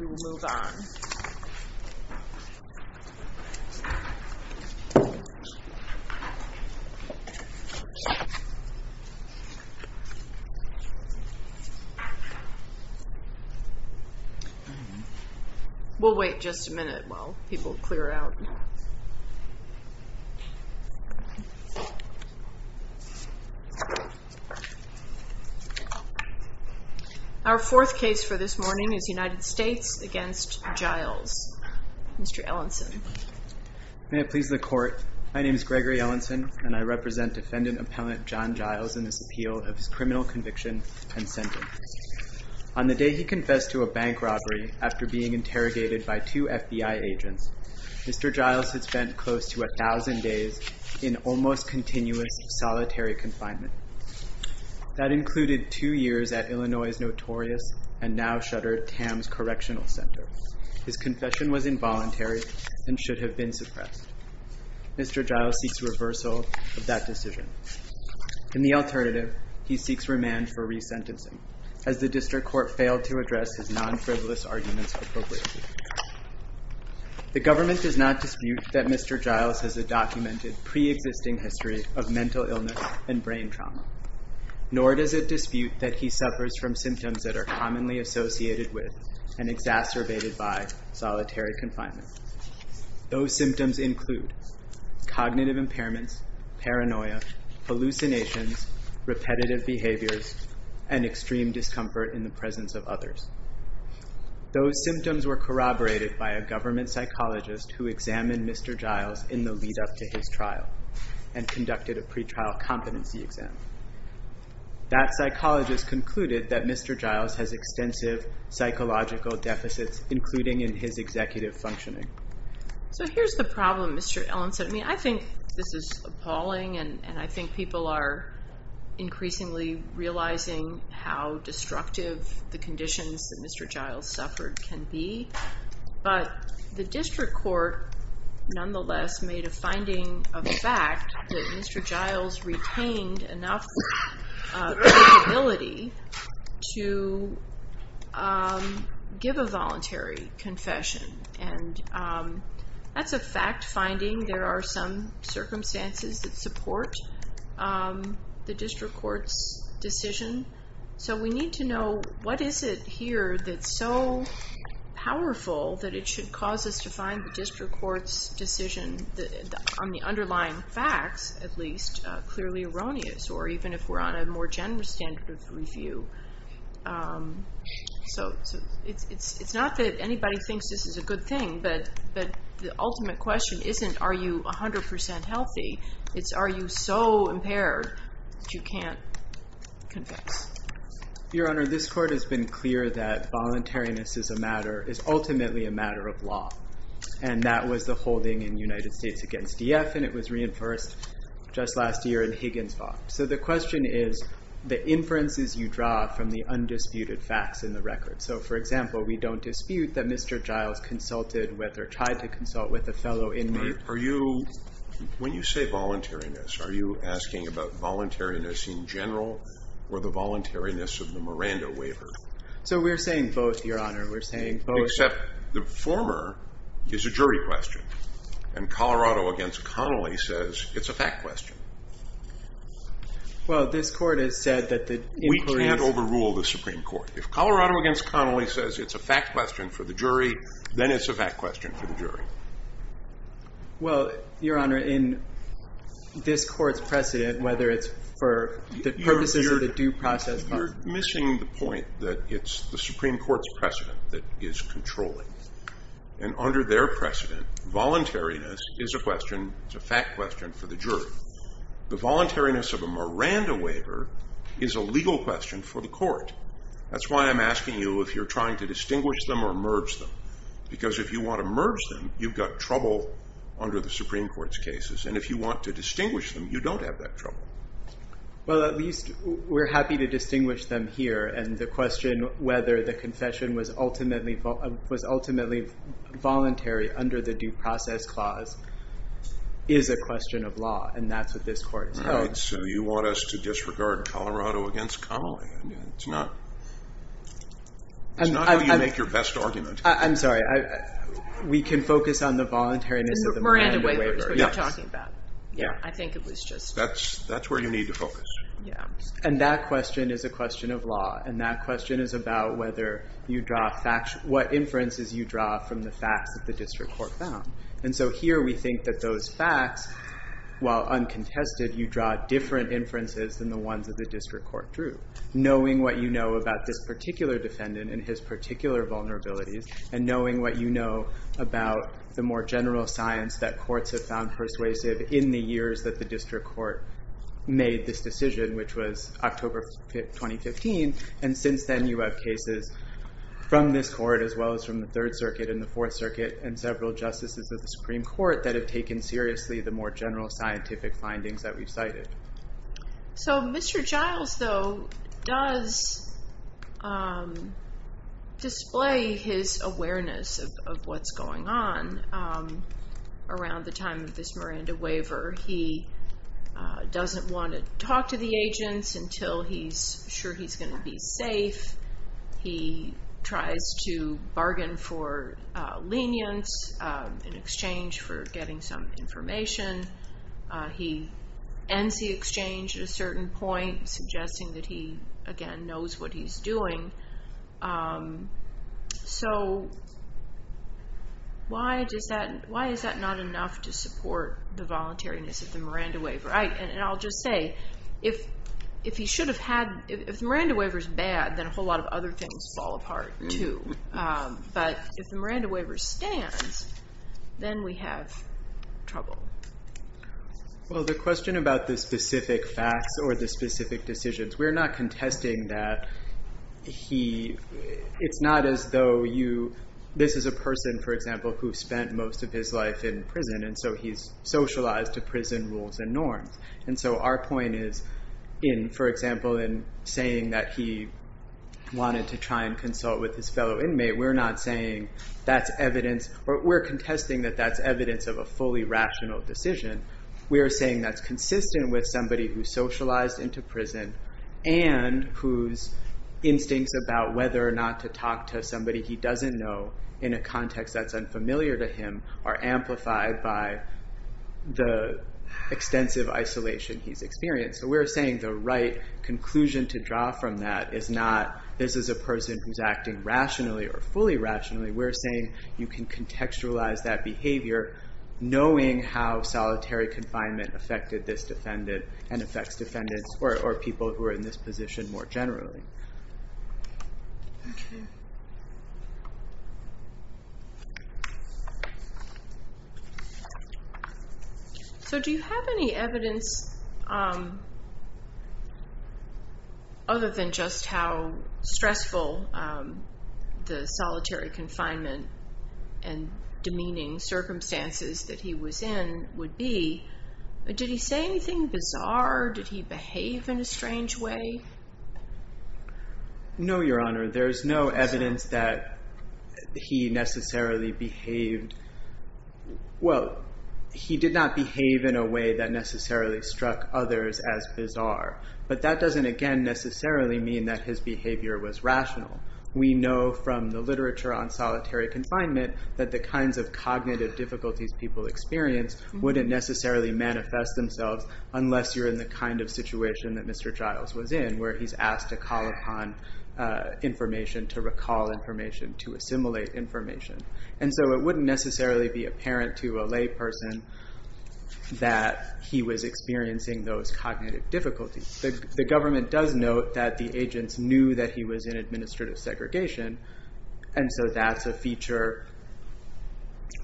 we will move on. We'll wait just a minute while people clear out. Our fourth case for this morning is United States v. Giles. Mr. Ellenson. May it please the court. My name is Gregory Ellenson and I represent defendant appellant Jon Giles in this appeal of his criminal conviction and sentence. On the day he confessed to a bank robbery after being interrogated by two FBI agents Mr. Giles had spent close to a thousand days in almost continuous solitary confinement. That shuddered Tam's correctional center. His confession was involuntary and should have been suppressed. Mr. Giles seeks reversal of that decision. In the alternative he seeks remand for resentencing as the district court failed to address his non-frivolous arguments. The government does not dispute that Mr. Giles has a documented pre-existing history of mental illness and brain trauma. Nor does it dispute that he suffers from symptoms that are commonly associated with and exacerbated by solitary confinement. Those symptoms include cognitive impairments, paranoia, hallucinations, repetitive behaviors, and extreme discomfort in the presence of others. Those symptoms were corroborated by a government psychologist who examined Mr. Giles in the pre-trial competency exam. That psychologist concluded that Mr. Giles has extensive psychological deficits including in his executive functioning. So here's the problem Mr. Ellenson. I mean I think this is appalling and I think people are increasingly realizing how destructive the conditions that Mr. Giles suffered can be. But the district court nonetheless made a finding of the Mr. Giles retained enough capability to give a voluntary confession and that's a fact finding. There are some circumstances that support the district court's decision so we need to know what is it here that's so powerful that it should cause us to find the district court's decision on the underlying facts at least clearly erroneous or even if we're on a more generous standard of review. So it's not that anybody thinks this is a good thing but the ultimate question isn't are you a hundred percent healthy? It's are you so impaired that you can't convict? Your honor this court has been clear that voluntariness is a matter is ultimately a matter of law and that was the holding in the United States against DF and it was reinforced just last year in Higgins Vaught. So the question is the inferences you draw from the undisputed facts in the record. So for example we don't dispute that Mr. Giles consulted whether tried to consult with a fellow inmate. Are you when you say voluntariness are you asking about voluntariness in general or the voluntariness of the Miranda waiver? So we're saying both your honor we're saying both. Except the former is a jury question and Colorado against Connolly says it's a fact question. Well this court has said that the inquiry. We can't overrule the Supreme Court. If Colorado against Connolly says it's a fact question for the jury then it's a fact question for the jury. Well your honor in this court's precedent whether it's for the purposes of the due process. You're controlling and under their precedent voluntariness is a question it's a fact question for the jury. The voluntariness of a Miranda waiver is a legal question for the court. That's why I'm asking you if you're trying to distinguish them or merge them because if you want to merge them you've got trouble under the Supreme Court's cases and if you want to distinguish them you don't have that trouble. Well at least we're happy to distinguish them here and the question whether the confession was ultimately voluntary under the due process clause is a question of law and that's what this court's. So you want us to disregard Colorado against Connolly. It's not how you make your best argument. I'm sorry we can focus on the voluntariness of the Miranda waiver. Miranda waiver is what you're talking about. Yeah I think it was just. That's where you need to focus. And that question is a question of law and that question is about whether you draw facts what inferences you draw from the facts of the district court found. And so here we think that those facts while uncontested you draw different inferences than the ones of the district court drew. Knowing what you know about this particular defendant and his particular vulnerabilities and knowing what you know about the more general science that courts have found persuasive in the years that the district court made this decision which was October 2015. And since then you have cases from this court as well as from the Third Circuit and the Fourth Circuit and several justices of the Supreme Court that have taken seriously the more general scientific findings that we've cited. So Mr. Giles though does display his awareness of what's going on around the time of this Miranda waiver. He doesn't want to talk to the agents until he's sure he's going to be safe. He tries to bargain for lenience in exchange for getting some information. He ends the exchange at a certain point suggesting that he again knows what he's doing. So why does that why is that not enough to support the voluntariness of the Miranda waiver. And I'll just say if if he should have had if the Miranda waiver is bad then a whole lot of other things fall apart too. But if the Miranda waiver stands then we have trouble. Well the question about the specific facts or the specific decisions we're not contesting that he it's not as though you this is a person for example who spent most of his life in prison and so he's socialized to prison rules and norms. And so our point is in for example in saying that he wanted to try and consult with his fellow inmate we're not saying that's evidence or we're contesting that that's evidence of a fully rational decision. We are saying that's consistent with somebody who socialized into prison and whose instincts about whether or not to talk to somebody he doesn't know in a context that's unfamiliar to him are amplified by the extensive isolation he's experienced. So we're saying the right conclusion to draw from that is not this is a person who's acting rationally or fully rationally. We're saying you can contextualize that behavior knowing how solitary confinement affected this defendant and affects defendants or people who are in this position more generally. So do you have any evidence other than just how stressful the solitary confinement and are did he behave in a strange way? No your honor there's no evidence that he necessarily behaved well he did not behave in a way that necessarily struck others as bizarre but that doesn't again necessarily mean that his behavior was rational. We know from the literature on solitary confinement that the kinds of cognitive difficulties people experience wouldn't necessarily manifest themselves unless you're in the kind of situation that Mr. Giles was in where he's asked to call upon information to recall information to assimilate information and so it wouldn't necessarily be apparent to a layperson that he was experiencing those cognitive difficulties. The government does note that the agents knew that he was in administrative segregation and so that's a feature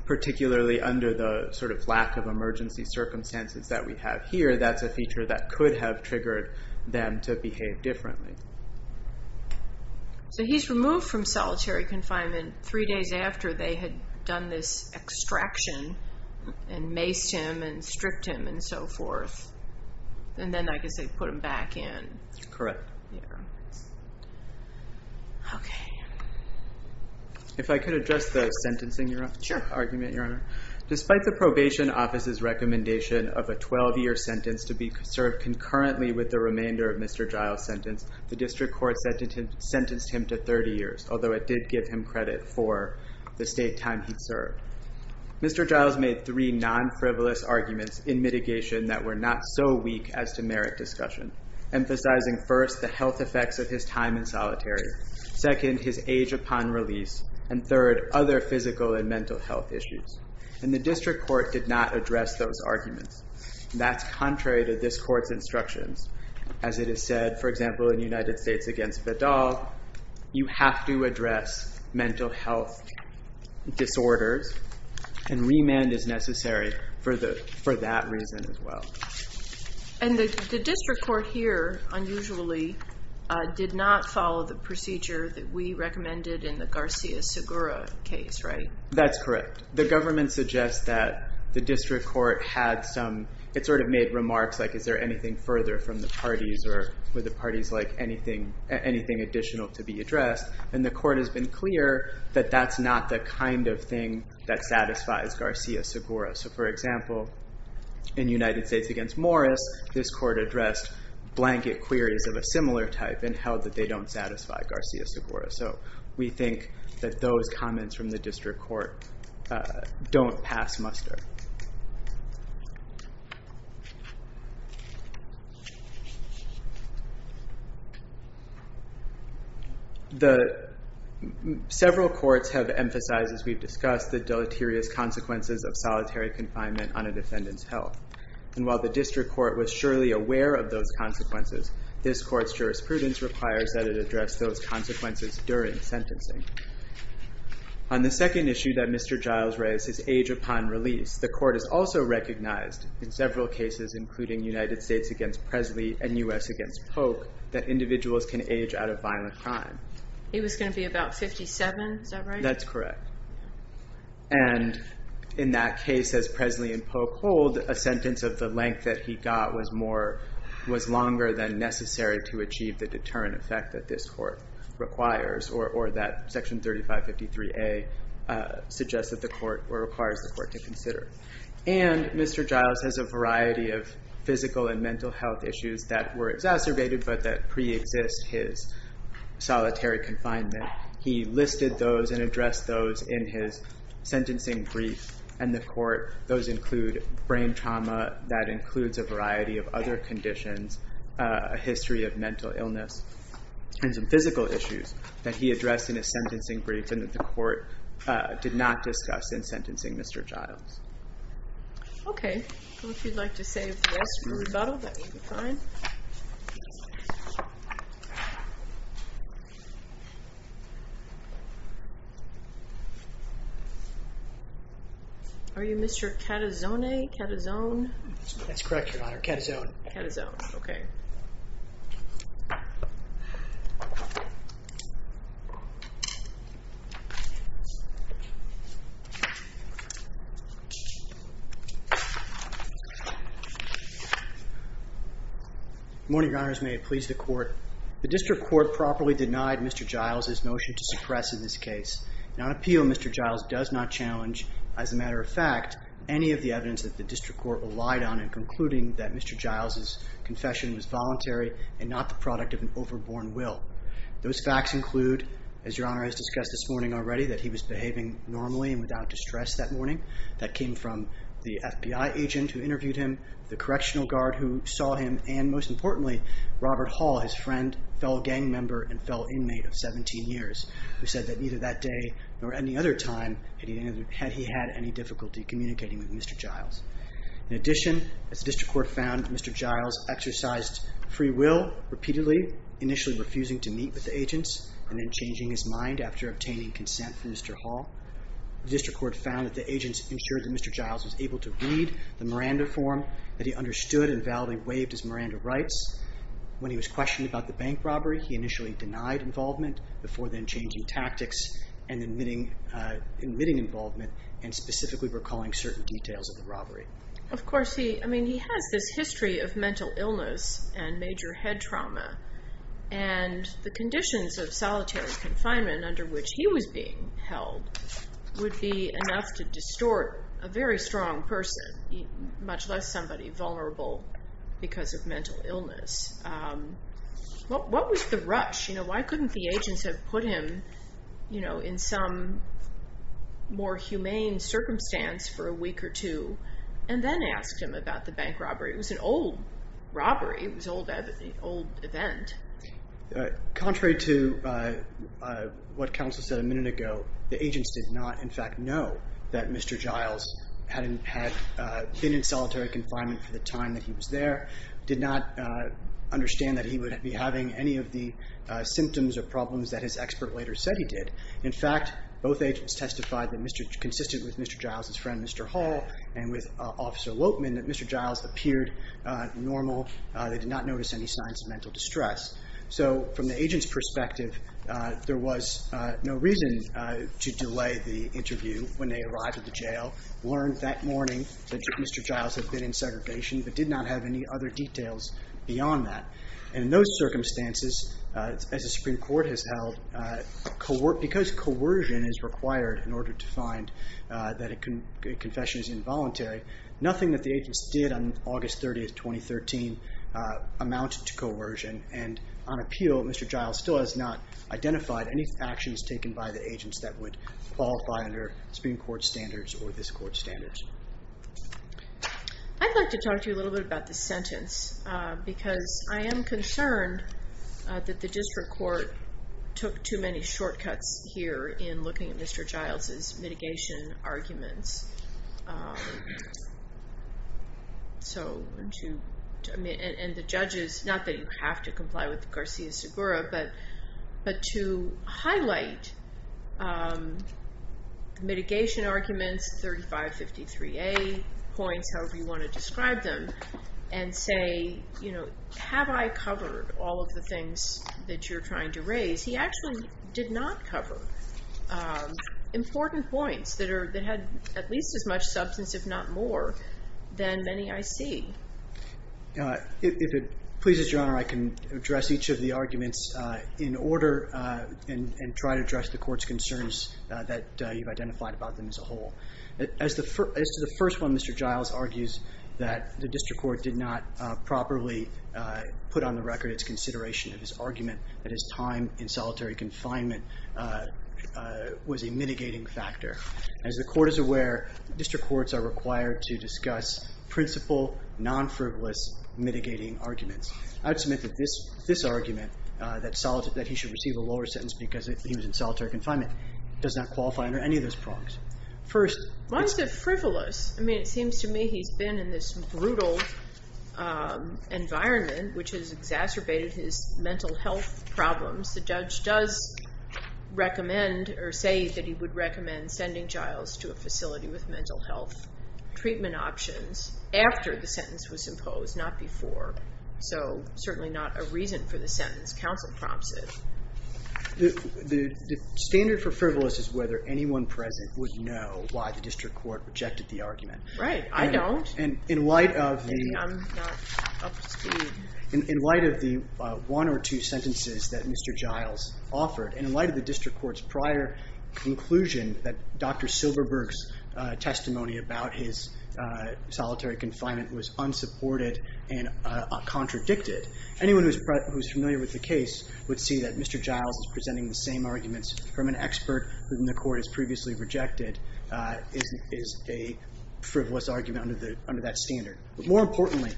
particularly under the sort of lack of emergency circumstances that we have here that's a feature that could have triggered them to behave differently. So he's removed from solitary confinement three days after they had done this extraction and maced him and stripped him and so forth and then I guess they put him back in. Correct. Okay. If I could address the sentencing argument your honor. Despite the probation office's recommendation of a 12-year sentence to be served concurrently with the remainder of Mr. Giles' sentence the district court sentenced him to 30 years although it did give him credit for the state time he served. Mr. Giles made three non-frivolous arguments in mitigation that were not so weak as to merit discussion. Emphasizing first the health effects of his time in solitary, second his age upon release, and third other physical and mental health issues and the district court did not address those arguments. That's contrary to this court's instructions as it is said for example in United States against Vidal you have to address mental health disorders and remand is necessary for the for that reason as well. And the district court here unusually did not follow the procedure that we recommended in the Garcia-Segura case right? That's correct. The government suggests that the district court had some it sort of made remarks like is there anything further from the parties or were the parties like anything anything additional to be addressed and the court has been clear that that's not the kind of thing that satisfies Garcia-Segura. So for example in United States against Morris this court addressed blanket queries of a similar type and held that they don't satisfy Garcia-Segura. So we think that those comments from the district court don't pass muster. The several courts have emphasized as we've discussed the deleterious consequences of solitary confinement on a defendant's health and while the district court was surely aware of those jurisprudence requires that it address those consequences during sentencing. On the second issue that Mr. Giles raises age upon release the court is also recognized in several cases including United States against Presley and US against Polk that individuals can age out of violent crime. He was going to be about 57 is that right? That's correct and in that case as Presley and Polk hold a sentence of the length that he got was more was longer than necessary to achieve the deterrent effect that this court requires or that section 3553A suggests that the court or requires the court to consider. And Mr. Giles has a variety of physical and mental health issues that were exacerbated but that pre-exists his solitary confinement. He listed those and addressed those in his sentencing brief and the court those include brain trauma that includes a variety of other conditions, a history of mental illness, and some physical issues that he addressed in his sentencing brief and that the court did not discuss in sentencing Mr. Giles. Okay Are you Mr. Catazone? That's correct your honor, Catazone. Catazone, okay. Morning your honors, may it please the court. The district court properly denied Mr. Giles his motion to suppress in this case. Now an appeal Mr. Giles does not challenge as a matter of fact any of the evidence that the district court relied on in concluding that Mr. Giles's confession was voluntary and not the product of an overborn will. Those facts include as your honor has discussed this morning already that he was behaving normally and without distress that morning. That came from the FBI agent who interviewed him, the correctional guard who saw him, and most importantly Robert Hall, his friend, fellow gang member, and fellow inmate of 17 years who said that neither that day nor any other time had he had any difficulty communicating with Mr. Giles. In addition, as the district court found Mr. Giles exercised free will repeatedly, initially refusing to meet with the agents and then changing his mind after obtaining consent from Mr. Hall, the district court found that the agents ensured that Mr. Giles was able to read the Miranda form that he understood and was questioned about the bank robbery. He initially denied involvement before then changing tactics and admitting involvement and specifically recalling certain details of the robbery. Of course he, I mean he has this history of mental illness and major head trauma and the conditions of solitary confinement under which he was being held would be enough to distort a very strong person, much less somebody vulnerable because of mental illness. What was the rush? You know, why couldn't the agents have put him, you know, in some more humane circumstance for a week or two and then asked him about the bank robbery? It was an old robbery. It was an old event. Contrary to what the agents did not in fact know that Mr. Giles had been in solitary confinement for the time that he was there, did not understand that he would be having any of the symptoms or problems that his expert later said he did. In fact, both agents testified that Mr., consistent with Mr. Giles' friend Mr. Hall and with Officer Lopeman, that Mr. Giles appeared normal. They did not notice any signs of mental distress. So from the agent's perspective, there was no reason to delay the interview when they arrived at the jail, learned that morning that Mr. Giles had been in segregation, but did not have any other details beyond that. And in those circumstances, as the Supreme Court has held, because coercion is required in order to find that a confession is involuntary, nothing that the agents did on August 30th, 2013 amounted to anything that would qualify the agents that would qualify under Supreme Court standards or this Court's standards. I'd like to talk to you a little bit about the sentence because I am concerned that the district court took too many shortcuts here in looking at Mr. Giles' mitigation arguments. So to, and the judges, not that you have to comply with the Garcia-Segura, but to highlight mitigation arguments, 3553A points, however you want to describe them, and say, you know, have I covered all of the things that you're trying to raise? He actually did not cover important points that had at least as much substance, if not more, than many I see. If it pleases Your Honor, I can address each of the arguments in order and try to address the Court's concerns that you've identified about them as a whole. As to the first one, Mr. Giles argues that the district court did not properly put on the record its consideration of his argument that his time in solitary confinement was a mitigating factor. As the Court is aware, district courts are required to discuss principal, non-frivolous mitigating arguments. I would submit that this argument, that he should receive a lower sentence because he was in solitary confinement, does not qualify under any of those prongs. First... Why is it frivolous? I mean, it seems to me he's been in this brutal environment which has exacerbated his mental health problems. The judge does recommend or say that he would recommend sending Giles to a facility with mental health treatment options after the sentence was imposed, not before. So, certainly not a reason for the sentence. Counsel prompts it. The standard for frivolous is whether anyone present would know why the district court rejected the argument. Right. I don't. Maybe I'm not up to speed. In light of the one or two sentences that Mr. Giles offered, and in light of the district court's prior conclusion that Dr. Silberberg's testimony about his solitary confinement was unsupported and contradicted, anyone who is familiar with the case would see that Mr. Giles is presenting the same arguments from an expert whom the court has previously rejected is a frivolous argument under that standard. But more importantly,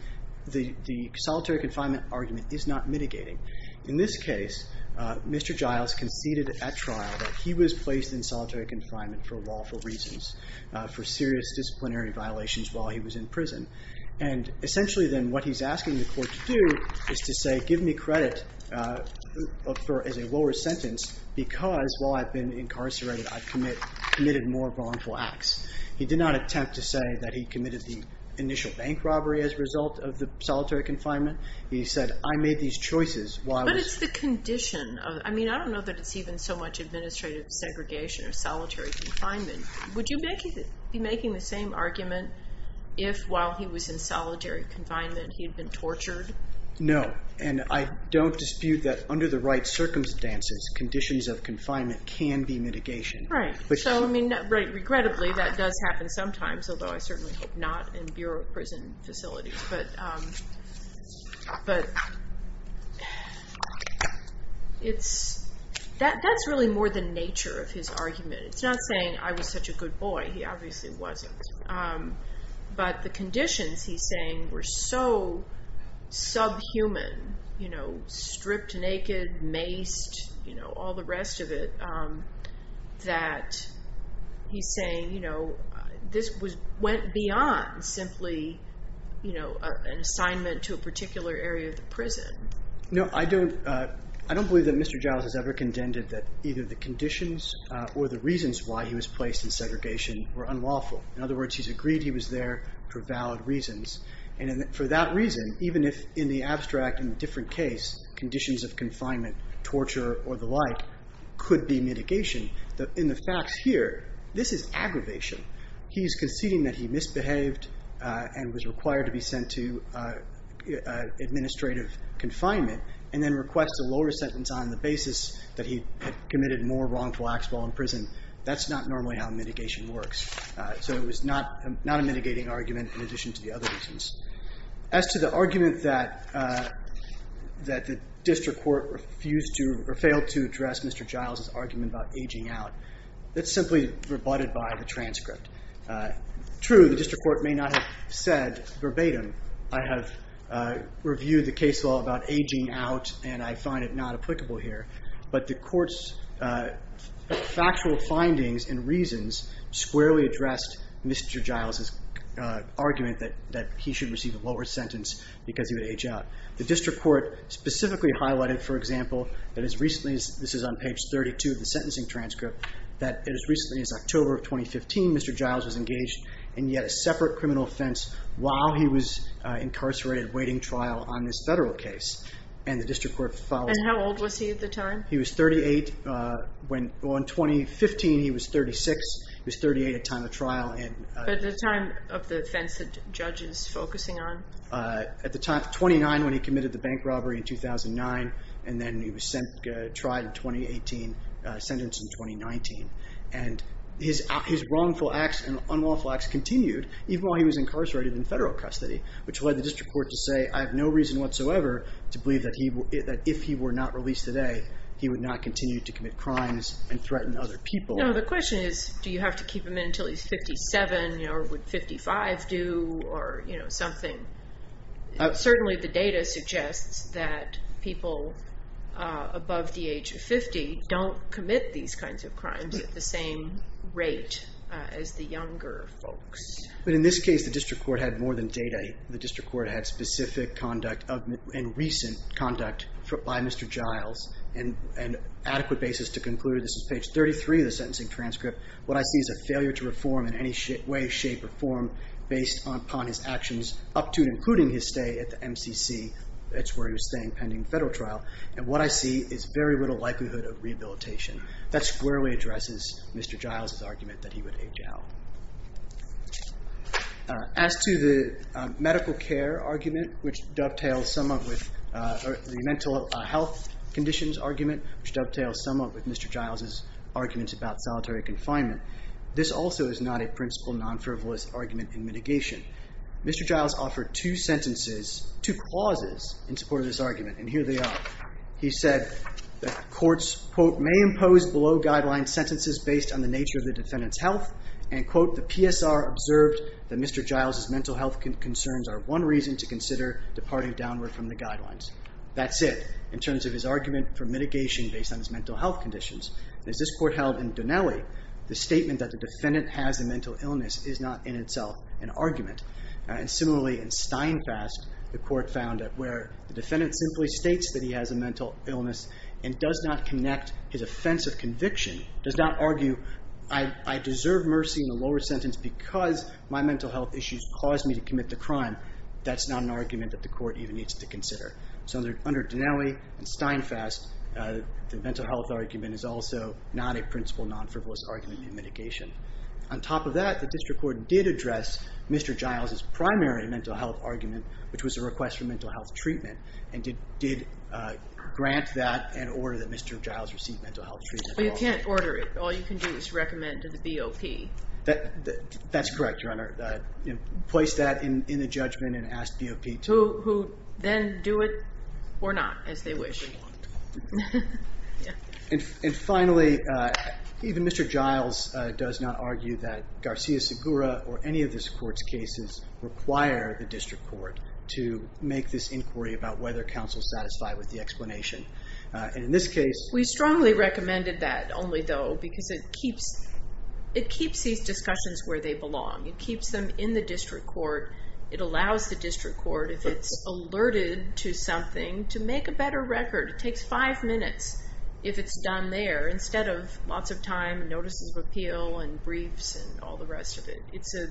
the solitary confinement argument is not mitigating. In this case, Mr. Giles conceded at trial that he was placed in solitary confinement for lawful reasons, for serious disciplinary violations while he was in prison. And essentially, then, what he's asking the court to do is to say, give me credit as a lower sentence because while I've been incarcerated, I've committed more wrongful acts. He did not attempt to say that he committed the initial bank robbery as a result of the solitary confinement. He said, I made these choices while I was But it's the condition. I mean, I don't know that it's even so much administrative segregation or solitary confinement. Would you be making the same argument if, while he was in solitary confinement, he had been tortured? No. And I don't dispute that under the right circumstances, conditions of confinement can be mitigation. Right. So, I mean, regrettably, that does happen sometimes, although I certainly hope not in Bureau of Prison Facilities. But that's really more the nature of his argument. It's not saying I was such a good boy. He obviously wasn't. But the conditions, he's saying, were so subhuman, stripped naked, maced, all the rest of it, that he's saying this went beyond simply an assignment to a particular area of the prison. No, I don't. I don't believe that Mr. Giles has ever contended that either the conditions or the reasons why he was placed in segregation were unlawful. In other words, he's agreed he was there for valid reasons. And for that reason, even if in the abstract, in a different case, conditions of confinement, torture or the like, could be mitigation. In the facts here, this is aggravation. He's conceding that he misbehaved and was required to be sent to administrative confinement and then request a lower sentence on the basis that he had committed more wrongful acts while in prison. That's not normally how mitigation works. So it was not a mitigating argument in addition to the other reasons. As to the argument that the district court refused to or failed to address Mr. Giles's argument about aging out, that's simply rebutted by the transcript. True, the district court may not have said verbatim, I have reviewed the case law about aging out and I find it not applicable here. But the court's factual findings and reasons squarely addressed Mr. Giles's argument that he should receive a lower sentence because he would age out. The district court specifically highlighted, for example, that as recently as, this is on page 32 of the sentencing transcript, that as recently as October of 2015, Mr. Giles was engaged in yet a separate criminal offense while he was incarcerated waiting trial on this federal case. And how old was he at the time? He was 38, well in 2015 he was 36, he was 38 at time of trial. At the time of the offense the judge is focusing on? At the time, 29 when he committed the bank robbery in 2009 and then he was tried in 2018, sentenced in 2019. And his wrongful acts and unlawful acts continued even while he was incarcerated in federal custody, which led the district court to say I have no reason whatsoever to believe that if he were not released today he would not continue to commit crimes and threaten other people. No, the question is do you have to keep him in until he's 57 or would 55 do or something? Certainly the data suggests that people above the age of 50 don't commit these kinds of crimes at the same rate as the younger folks. But in this case the district court had more than data, the district court had specific conduct and recent conduct by Mr. Giles and adequate basis to conclude, this is page 33 of the sentencing transcript, what I see is a failure to reform in any way, shape or form based upon his actions up to and including his stay at the MCC, that's where he was staying pending federal trial, and what I see is very little likelihood of rehabilitation. That squarely addresses Mr. Giles' argument that he would age out. As to the medical care argument, which dovetails somewhat with the mental health conditions argument, which dovetails somewhat with Mr. Giles' arguments about solitary confinement, this also is not a principle non-frivolous argument in mitigation. Mr. Giles offered two sentences, two clauses in support of this argument and here they are. He said that courts, quote, may impose below guideline sentences based on the nature of the defendant's health and, quote, the PSR observed that Mr. Giles' mental health concerns are one reason to consider departing downward from the guidelines. That's it in terms of his argument for mitigation based on his mental health conditions. As this court held in Donelli, the statement that the defendant has a mental illness is not in itself an argument. And similarly in Steinfast, the court found that where the defendant simply states that he has a mental illness and does not connect his offense of conviction, does not argue, I deserve mercy in the lower sentence because my mental health issues caused me to commit the crime, that's not an argument that the court even needs to consider. So under Donelli and Steinfast, the mental health argument is also not a principle non-frivolous argument in mitigation. On top of that, the district court did address Mr. Giles' primary mental health argument, which was a request for mental health treatment, and did grant that and order that Mr. Giles receive mental health treatment. But you can't order it. All you can do is recommend to the BOP. That's correct, Your Honor. Place that in the judgment and ask BOP. Who then do it or not, as they wish. And finally, even Mr. Giles does not argue that Garcia-Segura or any of this court's cases require the district court to make this inquiry about whether counsel is satisfied with the explanation. We strongly recommended that only, though, because it keeps these discussions where they belong. It keeps them in the district court. It allows the district court, if it's alerted to something, to make a better record. It takes five minutes if it's done there, instead of lots of time and notices of appeal and briefs and all the rest of it. It's a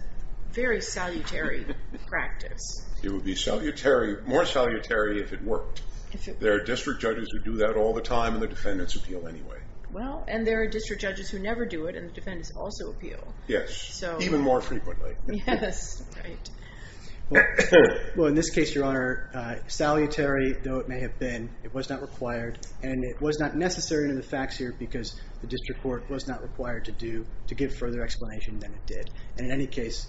very salutary practice. It would be more salutary if it worked. There are district judges who do that all the time, and the defendants appeal anyway. Well, and there are district judges who never do it, and the defendants also appeal. Yes, even more frequently. Yes, right. Well, in this case, Your Honor, salutary though it may have been, it was not required. And it was not necessary in the facts here because the district court was not required to give further explanation than it did. And in any case,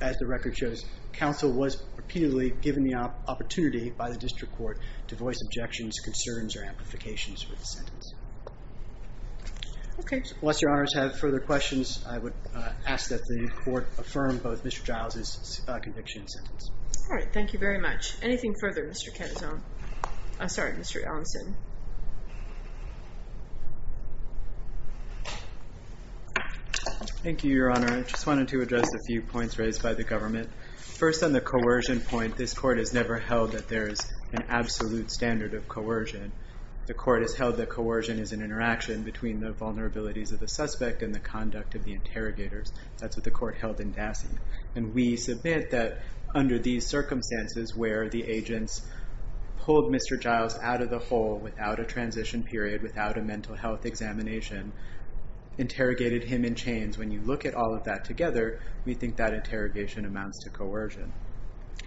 as the record shows, counsel was repeatedly given the opportunity by the district court to voice objections, concerns, or amplifications for the sentence. Okay. Unless Your Honors have further questions, I would ask that the court affirm both Mr. Giles' conviction and sentence. All right. Thank you very much. Anything further, Mr. Katazan? I'm sorry, Mr. Ellenson. Thank you, Your Honor. I just wanted to address a few points raised by the government. First on the coercion point, this court has never held that there is an absolute standard of coercion. The court has held that coercion is an interaction between the vulnerabilities of the suspect and the conduct of the interrogators. That's what the court held in Dassey. And we submit that under these circumstances where the agents pulled Mr. Giles out of the hole without a transition period, without a mental health examination, interrogated him in chains, when you look at all of that together, we think that interrogation amounts to coercion.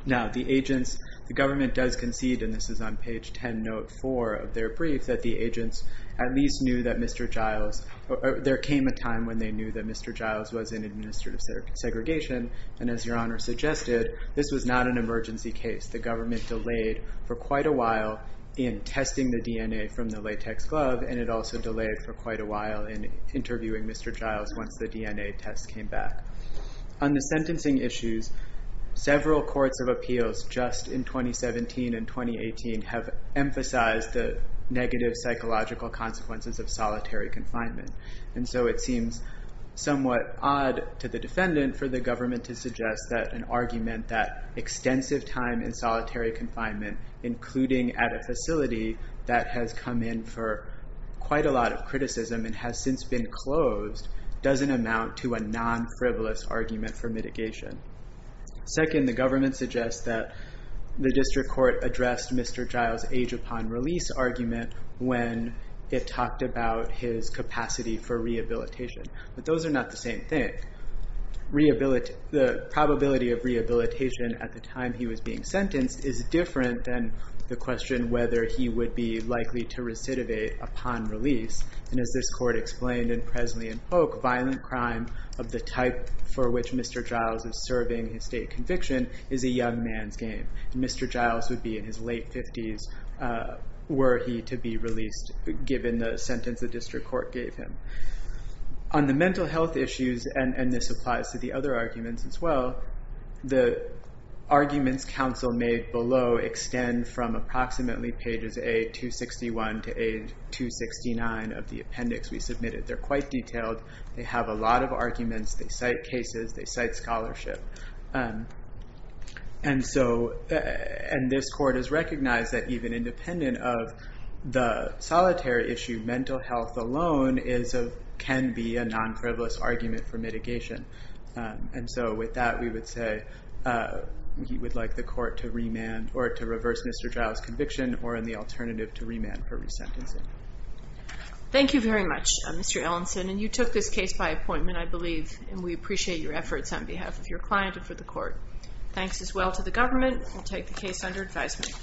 Now, the agents, the government does concede, and this is on page 10, note 4 of their brief, that the agents at least knew that Mr. Giles, there came a time when they knew that Mr. Giles was in administrative segregation. And as Your Honor suggested, this was not an emergency case. The government delayed for quite a while in testing the DNA from the latex glove, and it also delayed for quite a while in interviewing Mr. Giles once the DNA test came back. On the sentencing issues, several courts of appeals just in 2017 and 2018 have emphasized the negative psychological consequences of solitary confinement. And so it seems somewhat odd to the defendant for the government to suggest that an argument that extensive time in solitary confinement, including at a facility that has come in for quite a lot of criticism and has since been closed, doesn't amount to a non-frivolous argument for mitigation. Second, the government suggests that the district court addressed Mr. Giles' age upon release argument when it talked about his capacity for rehabilitation. But those are not the same thing. The probability of rehabilitation at the time he was being sentenced is different than the question whether he would be likely to recidivate upon release. And as this court explained in Presley and Polk, violent crime of the type for which Mr. Giles is serving his state conviction is a young man's game. And Mr. Giles would be in his late 50s were he to be released given the sentence the district court gave him. On the mental health issues, and this applies to the other arguments as well, the arguments counsel made below extend from approximately pages A261 to A269 of the appendix we submitted. They're quite detailed. They have a lot of arguments. They cite cases. They cite scholarship. And this court has recognized that even independent of the solitary issue, mental health alone can be a non-frivolous argument for mitigation. And so with that, we would say we would like the court to remand or to reverse Mr. Giles' conviction or in the alternative to remand for resentencing. Thank you very much, Mr. Ellenson. And you took this case by appointment, I believe, and we appreciate your efforts on behalf of your client and for the court. Thanks as well to the government. We'll take the case under advisement.